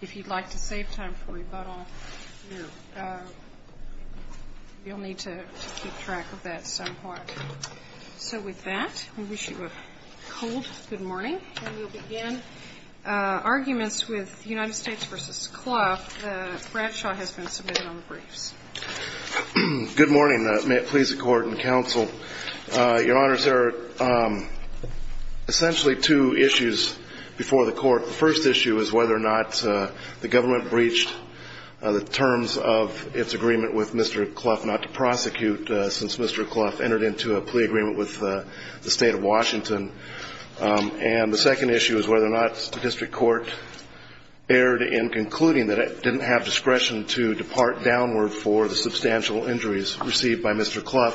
If you'd like to save time for rebuttal, you'll need to keep track of that somewhat. So with that, I wish you a cold good morning. And we'll begin arguments with United States v. Clough. Bradshaw has been submitted on the briefs. Good morning. May it please the Court and Counsel. The first issue is whether or not the government breached the terms of its agreement with Mr. Clough not to prosecute since Mr. Clough entered into a plea agreement with the state of Washington. And the second issue is whether or not the district court erred in concluding that it didn't have discretion to depart downward for the substantial injuries received by Mr. Clough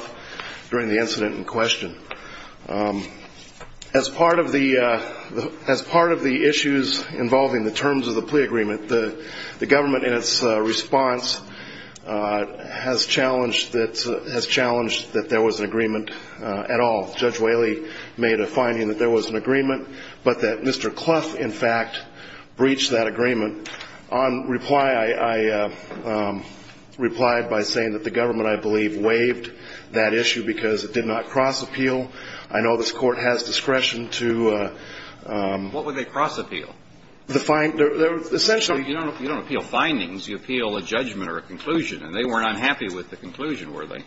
during the incident in question. As part of the issues involving the terms of the plea agreement, the government in its response has challenged that there was an agreement at all. Judge Whaley made a finding that there was an agreement, but that Mr. Clough, in fact, breached that agreement. And on reply, I replied by saying that the government, I believe, waived that issue because it did not cross-appeal. I know this Court has discretion to ---- What would they cross-appeal? The find ---- You don't appeal findings. You appeal a judgment or a conclusion. And they weren't unhappy with the conclusion, were they?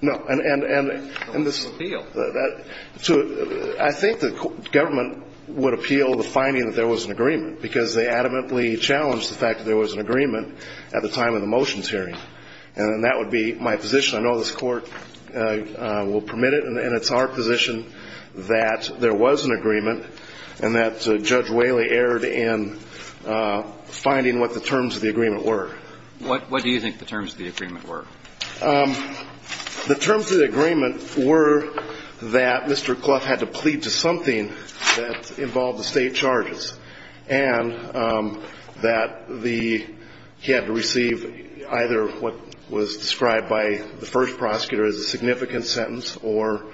No. And this ---- Don't appeal. I think the government would appeal the finding that there was an agreement because they adamantly challenged the fact that there was an agreement at the time of the motions hearing. And that would be my position. I know this Court will permit it. And it's our position that there was an agreement and that Judge Whaley erred in finding what the terms of the agreement were. What do you think the terms of the agreement were? The terms of the agreement were that Mr. Clough had to plead to something that involved the State charges, and that the ---- he had to receive either what was described by the first prosecutor as a significant sentence or,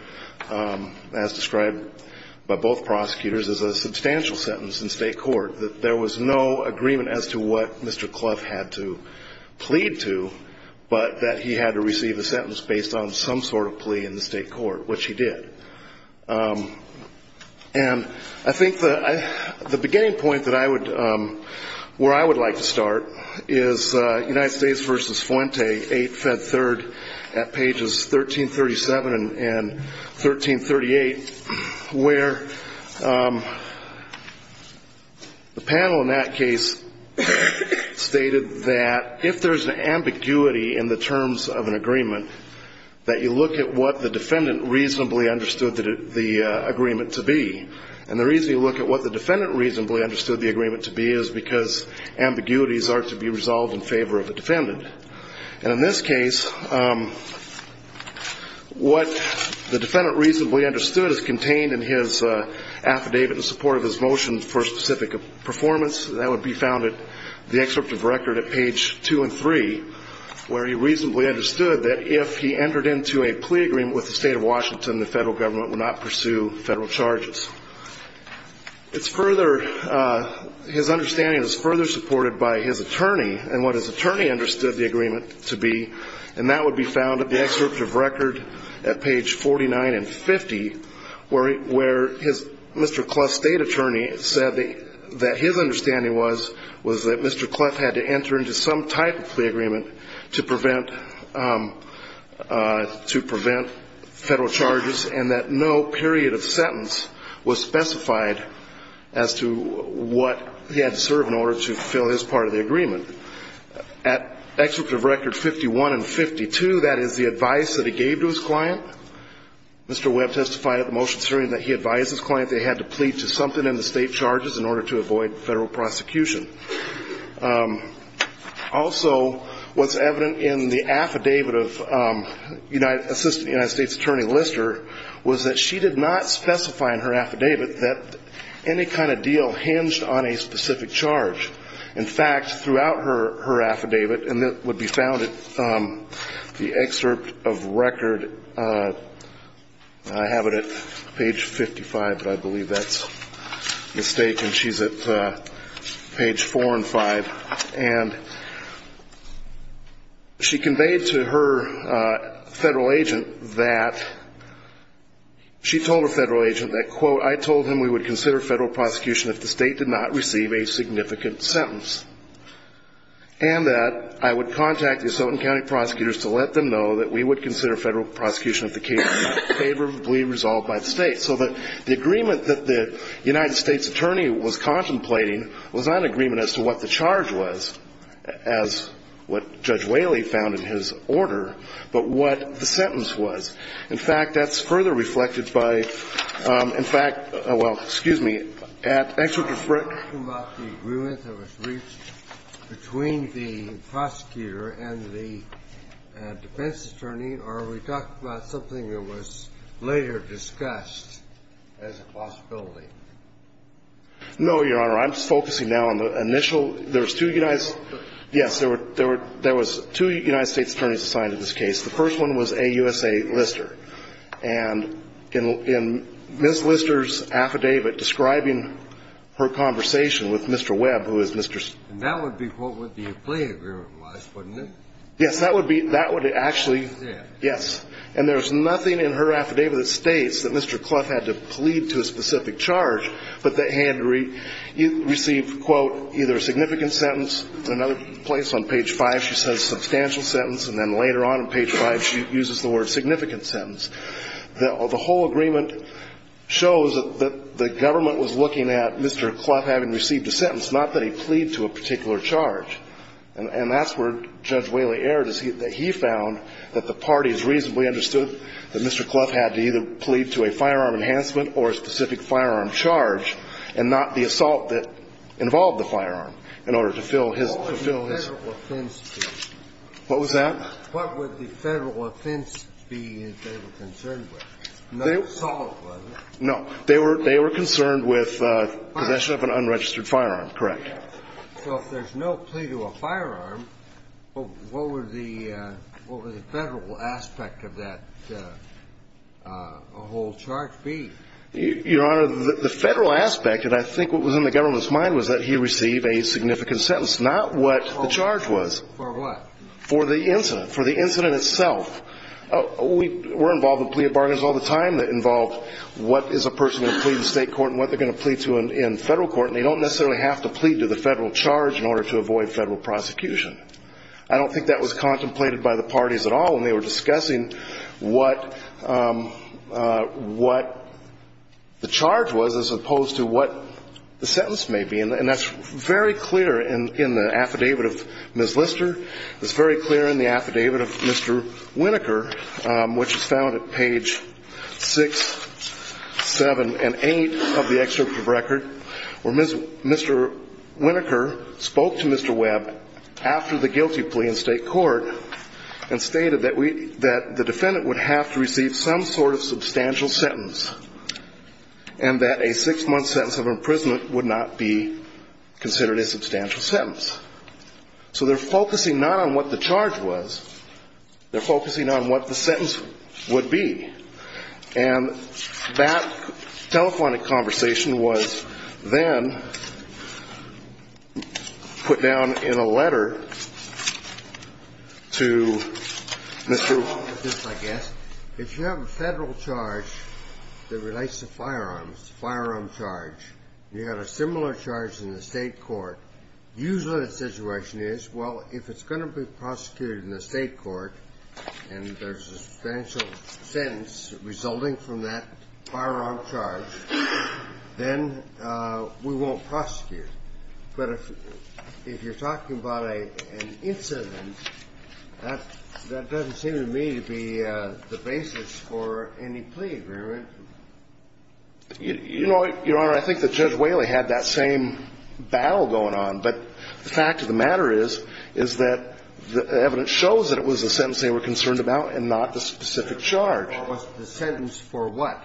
as described by both prosecutors, as a substantial sentence in State court. That there was no agreement as to what Mr. Clough had to plead to, but that he had to receive a sentence based on some sort of plea in the State court, which he did. And I think the beginning point that I would ---- where I would like to start is United States v. Fuente, 8 Fed 3rd at pages 1337 and 1338, where the panel in that case stated that if there's an ambiguity in the terms of an agreement, that you look at what the defendant reasonably understood the agreement to be. And the reason you look at what the defendant reasonably understood the agreement to be is because ambiguities are to be resolved in favor of the defendant. And in this case, what the defendant reasonably understood is contained in his affidavit in support of his motion for specific performance. That would be found at the excerpt of record at page 2 and 3, where he reasonably understood that if he entered into a plea agreement with the State of Washington, the Federal Government would not pursue Federal charges. It's further ---- his understanding is further supported by his attorney, and what his attorney understood the agreement to be. And that would be found at the excerpt of record at page 49 and 50, where his Mr. Cleff State attorney said that his understanding was, was that Mr. Cleff had to enter into some type of plea agreement to prevent Federal charges, and that no period of sentence was specified as to what he had to serve in order to fulfill his part of the agreement. At excerpts of record 51 and 52, that is the advice that he gave to his client. Mr. Webb testified at the motion hearing that he advised his client they had to plead to something in the State charges in order to avoid Federal prosecution. Also, what's evident in the affidavit of Assistant United States Attorney Lister, was that she did not specify in her affidavit that any kind of deal hinged on a specific charge. In fact, throughout her affidavit, and that would be found at the excerpt of record, I have it at page 55, but I believe that's a mistake, and she's at page four and five, and she conveyed to her Federal agent that, she told her Federal agent that, quote, I told him we would consider Federal prosecution if the State did not receive a significant sentence, and that I would contact the Assassin County prosecutors to let them know that we would consider Federal prosecution if the case was favorably resolved by the State. So the agreement that the United States attorney was contemplating was not an agreement as to what the charge was, as what Judge Whaley found in his order, but what the sentence was. In fact, that's further reflected by, in fact, well, excuse me, at excerpt of record. Are we talking about the agreement that was reached between the prosecutor and the defense attorney, or are we talking about something that was later discussed as a possibility? No, Your Honor. I'm focusing now on the initial. There was two United States attorneys assigned to this case. The first one was A. USA. Lister. And in Ms. Lister's affidavit describing her conversation with Mr. Webb, who is Mr. And that would be, quote, what the plea agreement was, wouldn't it? Yes. That would be, that would actually, yes. And there's nothing in her affidavit that states that Mr. Clough had to plead to a specific charge, but that he had to receive, quote, either a significant sentence, in another place on page 5 she says substantial sentence, and then later on in page 5 she uses the word significant sentence. The whole agreement shows that the government was looking at Mr. Clough having received a sentence, not that he pleaded to a particular charge. And that's where Judge Whaley erred, is that he found that the parties reasonably understood that Mr. Clough had to either plead to a firearm enhancement or a specific firearm charge, and not the assault that involved the firearm, in order to fill his What would the federal offense be? What was that? What would the federal offense be that they were concerned with? No assault, was it? No. They were concerned with possession of an unregistered firearm, correct. So if there's no plea to a firearm, what would the federal aspect of that whole charge be? Your Honor, the federal aspect, and I think what was in the government's mind, was that he receive a significant sentence, not what the charge was. For what? For the incident. For the incident itself. We're involved in plea bargains all the time that involve what is a person going to plead in state court and what they're going to plead to in federal court, and they don't necessarily have to plead to the federal charge in order to avoid federal prosecution. I don't think that was contemplated by the parties at all when they were discussing what the charge was, as opposed to what the sentence may be. And that's very clear in the affidavit of Ms. Lister. It's very clear in the affidavit of Mr. Winokur, which is found at page six, seven, and eight of the excerpt of the record, where Mr. Winokur spoke to Mr. Webb after the guilty plea in state court and stated that the defendant would have to receive some sort of substantial sentence and that a six-month sentence of imprisonment would not be considered a substantial sentence. So they're focusing not on what the charge was. They're focusing on what the sentence would be. And that telephonic conversation was then put down in a letter to Mr. — If you have a federal charge that relates to firearms, a firearm charge, and you have a similar charge in the state court, usually the situation is, well, if it's going to be prosecuted in the state court and there's a substantial sentence resulting from that firearm charge, then we won't prosecute. But if you're talking about an incident, that doesn't seem to me to be the basis for any plea agreement. You know, Your Honor, I think that Judge Whaley had that same battle going on. But the fact of the matter is, is that the evidence shows that it was a sentence they were concerned about and not the specific charge. It was the sentence for what?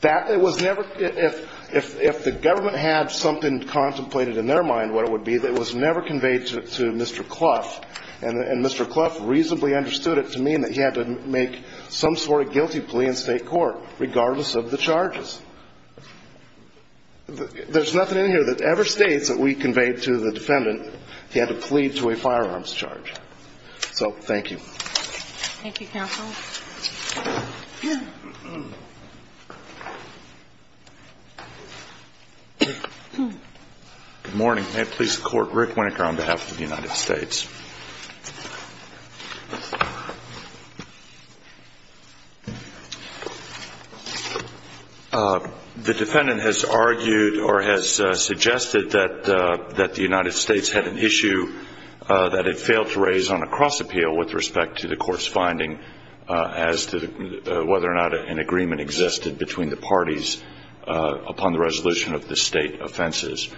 That was never — if the government had something contemplated in their mind, what it would be, that was never conveyed to Mr. Clough. And Mr. Clough reasonably understood it to mean that he had to make some sort of guilty plea in state court, regardless of the charges. There's nothing in here that ever states that we conveyed to the defendant he had to plead to a firearms charge. So thank you. Thank you, counsel. Good morning. May it please the Court, Rick Winnicker on behalf of the United States. The defendant has argued or has suggested that the United States had an issue that it failed to raise on a cross appeal with respect to the court's finding as to whether or not an agreement existed between the parties upon the resolution of the state offenses.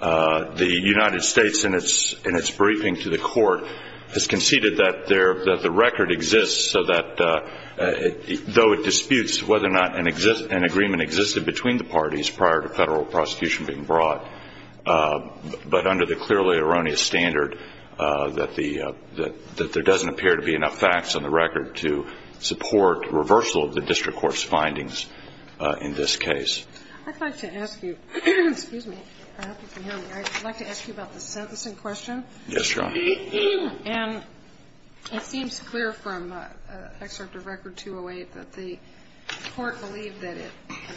The United States in its briefing to the court has conceded that the record exists so that though it disputes whether or not an agreement existed between the parties prior to federal prosecution being brought, but under the clearly erroneous standard that there doesn't appear to be enough facts on the record to support reversal of the district court's findings in this case. I'd like to ask you about the sentencing question. Yes, Your Honor. And it seems clear from an excerpt of Record 208 that the court believed that it was a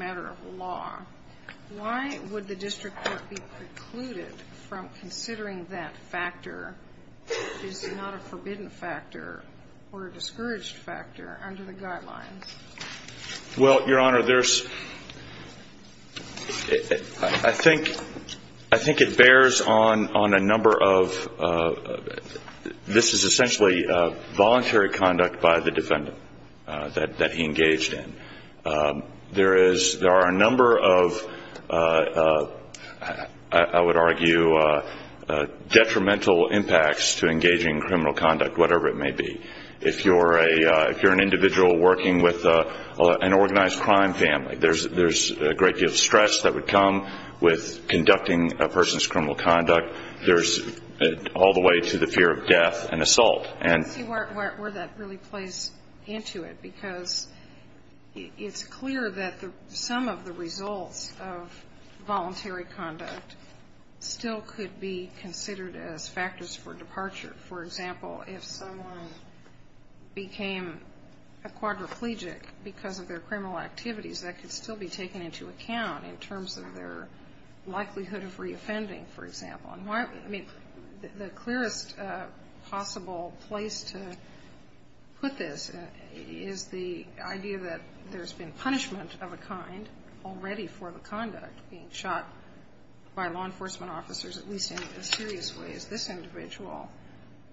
matter of law. Why would the district court be precluded from considering that factor, which is not a forbidden factor or a discouraged factor, under the guidelines? Well, Your Honor, there's – I think it bears on a number of – this is a matter of voluntary conduct by the defendant that he engaged in. There are a number of, I would argue, detrimental impacts to engaging in criminal conduct, whatever it may be. If you're an individual working with an organized crime family, there's a great deal of stress that would come with conducting a person's criminal conduct. But there's all the way to the fear of death and assault. Let me see where that really plays into it, because it's clear that some of the results of voluntary conduct still could be considered as factors for departure. For example, if someone became a quadriplegic because of their criminal activities, that could still be taken into account in terms of their likelihood of reoffending, for example. I mean, the clearest possible place to put this is the idea that there's been punishment of a kind already for the conduct being shot by law enforcement officers, at least in as serious a way as this individual.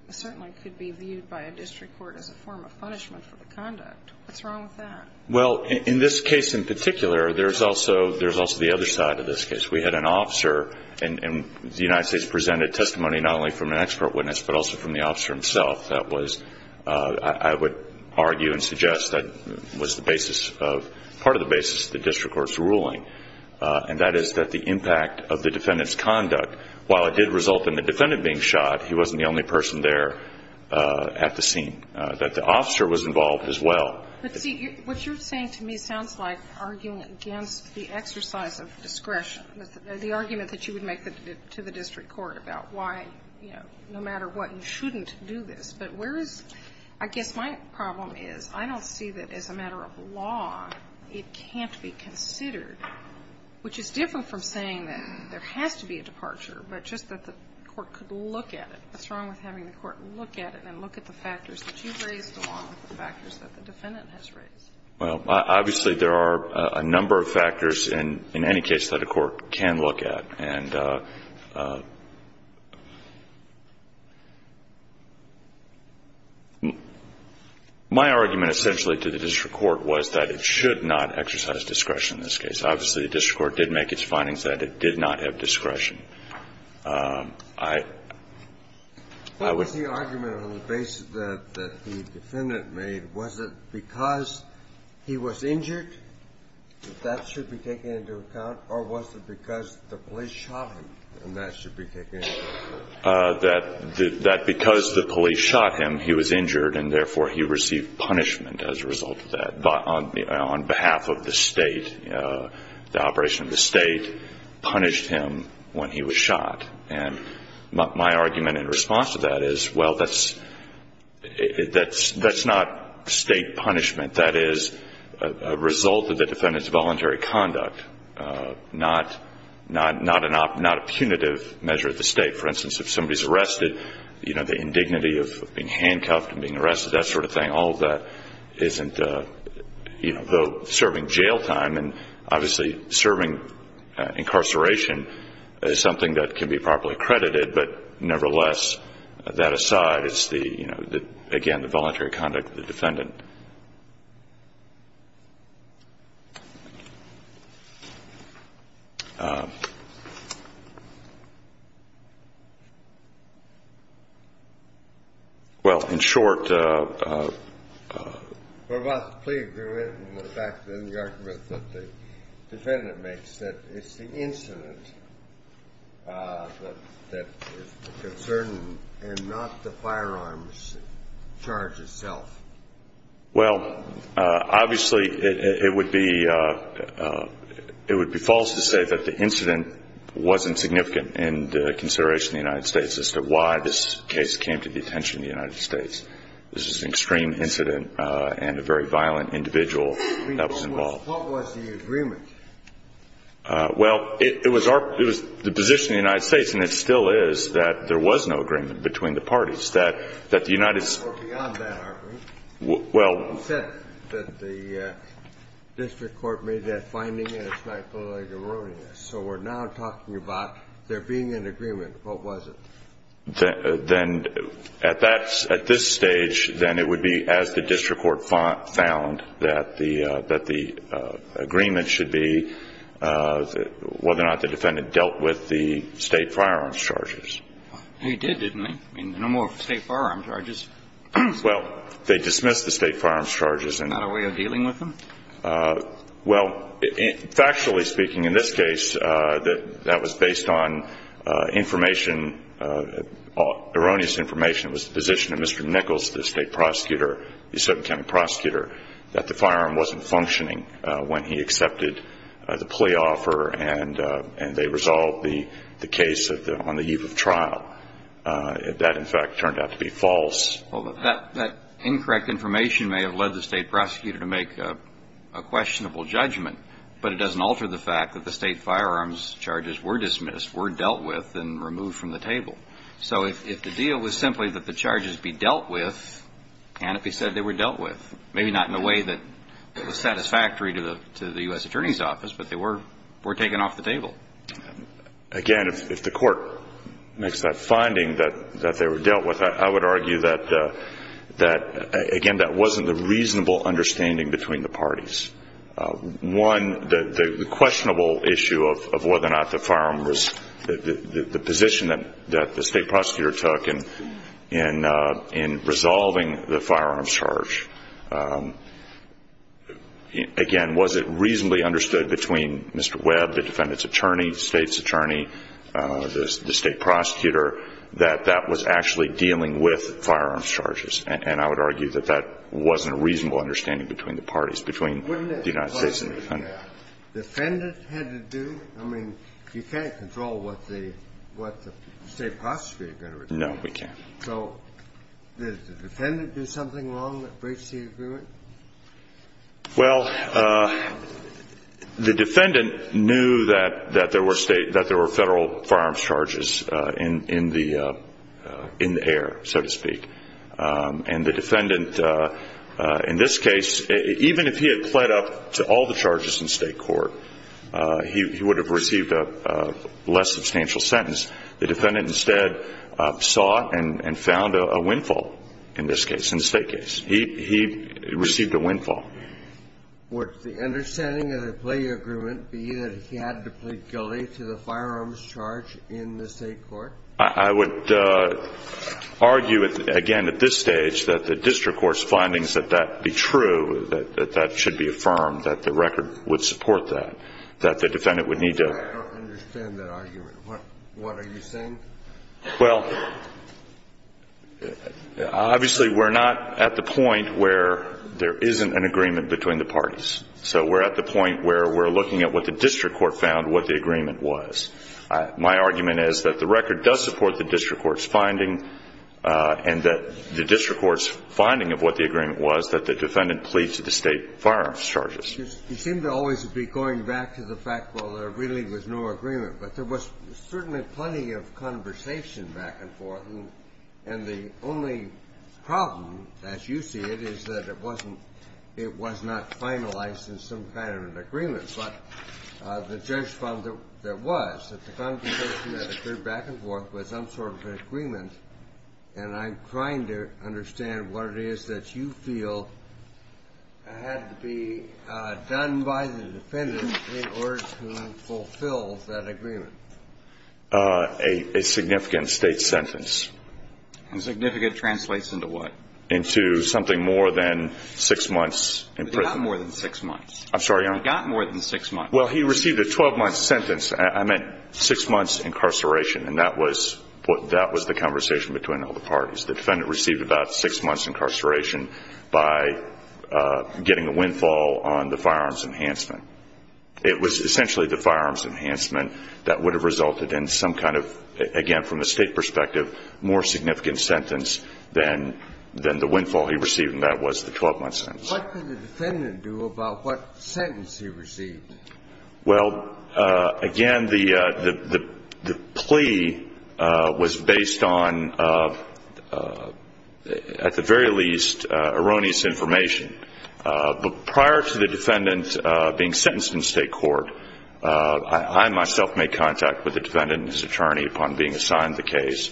It certainly could be viewed by a district court as a form of punishment for the conduct. What's wrong with that? Well, in this case in particular, there's also the other side of this case. We had an officer, and the United States presented testimony not only from an expert witness, but also from the officer himself. I would argue and suggest that was part of the basis of the district court's ruling, and that is that the impact of the defendant's conduct, while it did result in the defendant being shot, he wasn't the only person there at the scene. The officer was involved as well. But see, what you're saying to me sounds like arguing against the exercise of discretion, the argument that you would make to the district court about why, you know, no matter what, you shouldn't do this. But where is – I guess my problem is I don't see that as a matter of law it can't be considered, which is different from saying that there has to be a departure, but just that the court could look at it. What's wrong with having the court look at it and look at the factors that you raised along with the factors that the defendant has raised? Well, obviously, there are a number of factors in any case that a court can look at. And my argument essentially to the district court was that it should not exercise discretion in this case. Obviously, the district court did make its findings that it did not have discretion. What was the argument on the basis that the defendant made? Was it because he was injured that that should be taken into account, or was it because the police shot him and that should be taken into account? That because the police shot him, he was injured, and therefore he received punishment as a result of that on behalf of the State. The operation of the State punished him when he was shot. And my argument in response to that is, well, that's not State punishment. That is a result of the defendant's voluntary conduct, not a punitive measure of the State. For instance, if somebody is arrested, the indignity of being handcuffed and being arrested, that sort of thing, all of that isn't serving jail time. And obviously, serving incarceration is something that can be properly credited. But nevertheless, that aside, it's, again, the voluntary conduct of the defendant. Well, in short. We're about to plead the argument in the argument that the defendant makes that it's the incident that is the concern and not the firearms charge itself. Well, obviously, it would be false to say that the incident wasn't significant in consideration of the United States as to why this case came to the attention of the United States. This is an extreme incident and a very violent individual that was involved. What was the agreement? Well, it was the position of the United States, and it still is, that there was no agreement between the parties. That the United States was. Well, beyond that argument. Well. You said that the district court made that finding and it's not totally erroneous. So we're now talking about there being an agreement. What was it? Then at this stage, then it would be as the district court found, that the agreement should be whether or not the defendant dealt with the state firearms charges. He did, didn't he? I mean, no more state firearms charges. Well, they dismissed the state firearms charges. Not a way of dealing with them? Well, factually speaking, in this case, that was based on information, erroneous information. It was the position of Mr. Nichols, the state prosecutor, the certain county prosecutor, that the firearm wasn't functioning when he accepted the plea offer and they resolved the case on the eve of trial. That, in fact, turned out to be false. Well, that incorrect information may have led the state prosecutor to make a questionable judgment, but it doesn't alter the fact that the state firearms charges were dismissed, were dealt with, and removed from the table. So if the deal was simply that the charges be dealt with, and if he said they were dealt with, maybe not in a way that was satisfactory to the U.S. Attorney's Office, but they were taken off the table. Again, if the court makes that finding that they were dealt with, I would argue that, again, that wasn't a reasonable understanding between the parties. One, the questionable issue of whether or not the firearm was the position that the state prosecutor took in resolving the firearms charge. Again, was it reasonably understood between Mr. Webb, the defendant's attorney, the State's attorney, the state prosecutor, that that was actually dealing with firearms charges? And I would argue that that wasn't a reasonable understanding between the parties, between the United States and the defendant. The defendant had to do? I mean, you can't control what the state prosecutor is going to do. No, we can't. So did the defendant do something wrong that breached the agreement? Well, the defendant knew that there were Federal firearms charges in the air, so to speak. And the defendant, in this case, even if he had pled up to all the charges in State court, he would have received a less substantial sentence. The defendant instead sought and found a windfall in this case, in the State case. He received a windfall. Would the understanding of the plea agreement be that he had to plead guilty to the firearms charge in the State court? I would argue, again, at this stage, that the district court's findings that that be true, that that should be affirmed, that the record would support that, that the defendant would need to I don't understand that argument. What are you saying? Well, obviously, we're not at the point where there isn't an agreement between the parties. So we're at the point where we're looking at what the district court found, what the agreement was. My argument is that the record does support the district court's finding and that the district court's finding of what the agreement was that the defendant plead to the State firearms charges. You seem to always be going back to the fact, well, there really was no agreement. But there was certainly plenty of conversation back and forth. And the only problem, as you see it, is that it wasn't it was not finalized in some kind of an agreement. But the judge found that there was, that the conversation that occurred back and forth was some sort of an agreement. And I'm trying to understand what it is that you feel had to be done by the defendant in order to fulfill that agreement. A significant state sentence. Significant translates into what? Into something more than six months in prison. He got more than six months. I'm sorry, Your Honor? He got more than six months. Well, he received a 12-month sentence. I meant six months incarceration. And that was the conversation between all the parties. The defendant received about six months incarceration by getting a windfall on the firearms enhancement. It was essentially the firearms enhancement that would have resulted in some kind of, again, from a state perspective, more significant sentence than the windfall he received, and that was the 12-month sentence. What did the defendant do about what sentence he received? Well, again, the plea was based on, at the very least, erroneous information. But prior to the defendant being sentenced in state court, I myself made contact with the defendant and his attorney upon being assigned the case,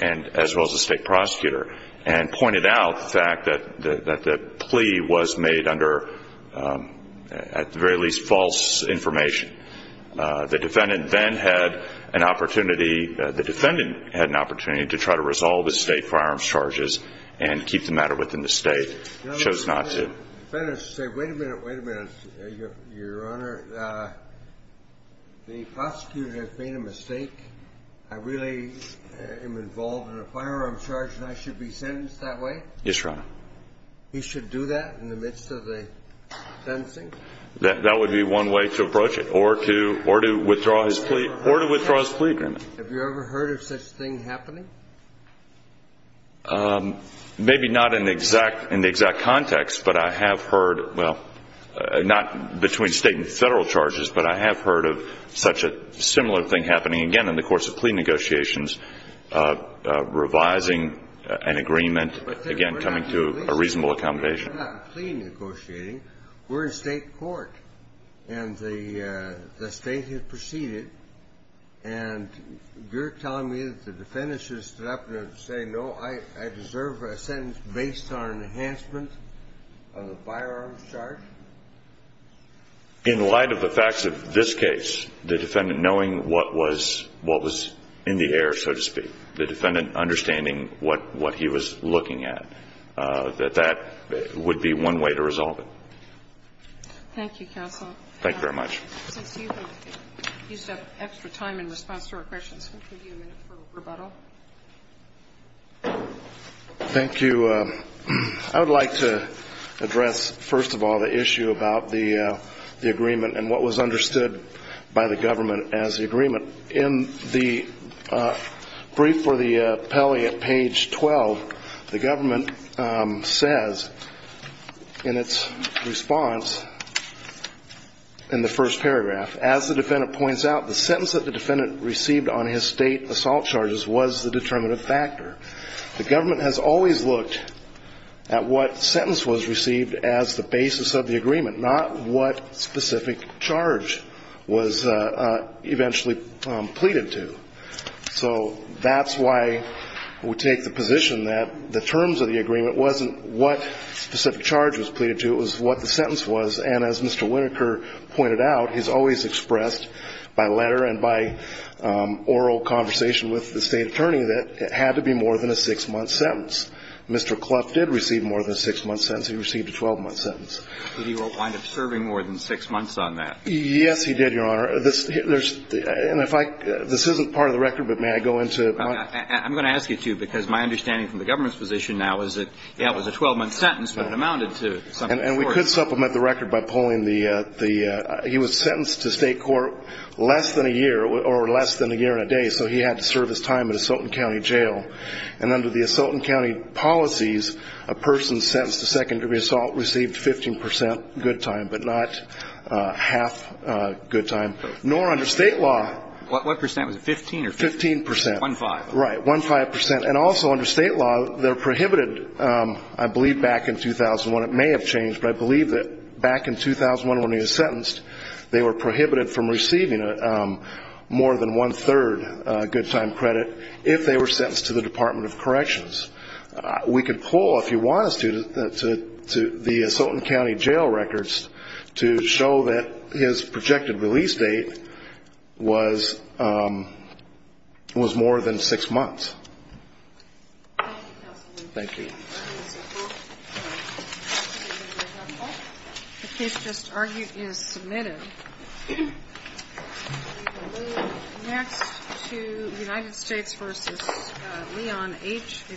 as well as the state prosecutor, and pointed out the fact that the plea was made under, at the very least, false information. The defendant then had an opportunity to try to resolve the state firearms charges and keep the matter within the state. He chose not to. Wait a minute. Wait a minute, Your Honor. The prosecutor has made a mistake. I really am involved in a firearms charge and I should be sentenced that way? Yes, Your Honor. He should do that in the midst of the sentencing? That would be one way to approach it, or to withdraw his plea agreement. Have you ever heard of such a thing happening? Maybe not in the exact context, but I have heard, well, not between state and federal charges, but I have heard of such a similar thing happening, again, in the course of plea negotiations, revising an agreement, again, coming to a reasonable accommodation. We're not in plea negotiating. We're in state court. And the state has proceeded, and you're telling me that the defendant should have stood up and said, no, I deserve a sentence based on an enhancement of the firearms charge? In light of the facts of this case, the defendant knowing what was in the air, so to speak, the defendant understanding what he was looking at, that that would be one way to resolve it. Thank you, counsel. Thank you very much. Since you have used up extra time in response to our questions, we'll give you a minute for rebuttal. Thank you. I would like to address, first of all, the issue about the agreement and what was understood by the government as the agreement. In the brief for the appellee at page 12, the government says in its response in the first paragraph, as the defendant points out, the sentence that the defendant received on his state assault charges was the determinative factor. The government has always looked at what sentence was received as the basis of the agreement, not what specific charge was eventually pleaded to. So that's why we take the position that the terms of the agreement wasn't what specific charge was pleaded to, it was what the sentence was. And as Mr. Whitaker pointed out, he's always expressed by letter and by oral conversation with the state attorney that it had to be more than a six-month sentence. Mr. Clough did receive more than a six-month sentence. He received a 12-month sentence. Did he wind up serving more than six months on that? Yes, he did, Your Honor. And if I – this isn't part of the record, but may I go into it? I'm going to ask you to, because my understanding from the government's position now is that that was a 12-month sentence, but it amounted to something shorter. And we could supplement the record by pulling the – he was sentenced to state court less than a year or less than a year and a day, so he had to serve his time at Assault and County Jail. And under the Assault and County policies, a person sentenced to second-degree assault received 15 percent good time, but not half good time. Nor under state law. What percent? Was it 15 or 15 percent? Fifteen percent. One-five. Right. One-five percent. And also under state law, they're prohibited – I believe back in 2001. It may have changed, but I believe that back in 2001 when he was sentenced, they were prohibited from receiving more than one-third good time credit if they were sentenced to the Department of Corrections. We could pull, if you want us to, the Assault and County Jail records to show that his projected release date was more than six months. Thank you, counsel. Thank you. The case just argued is submitted. We will move next to United States v. Leon H., a juvenile male.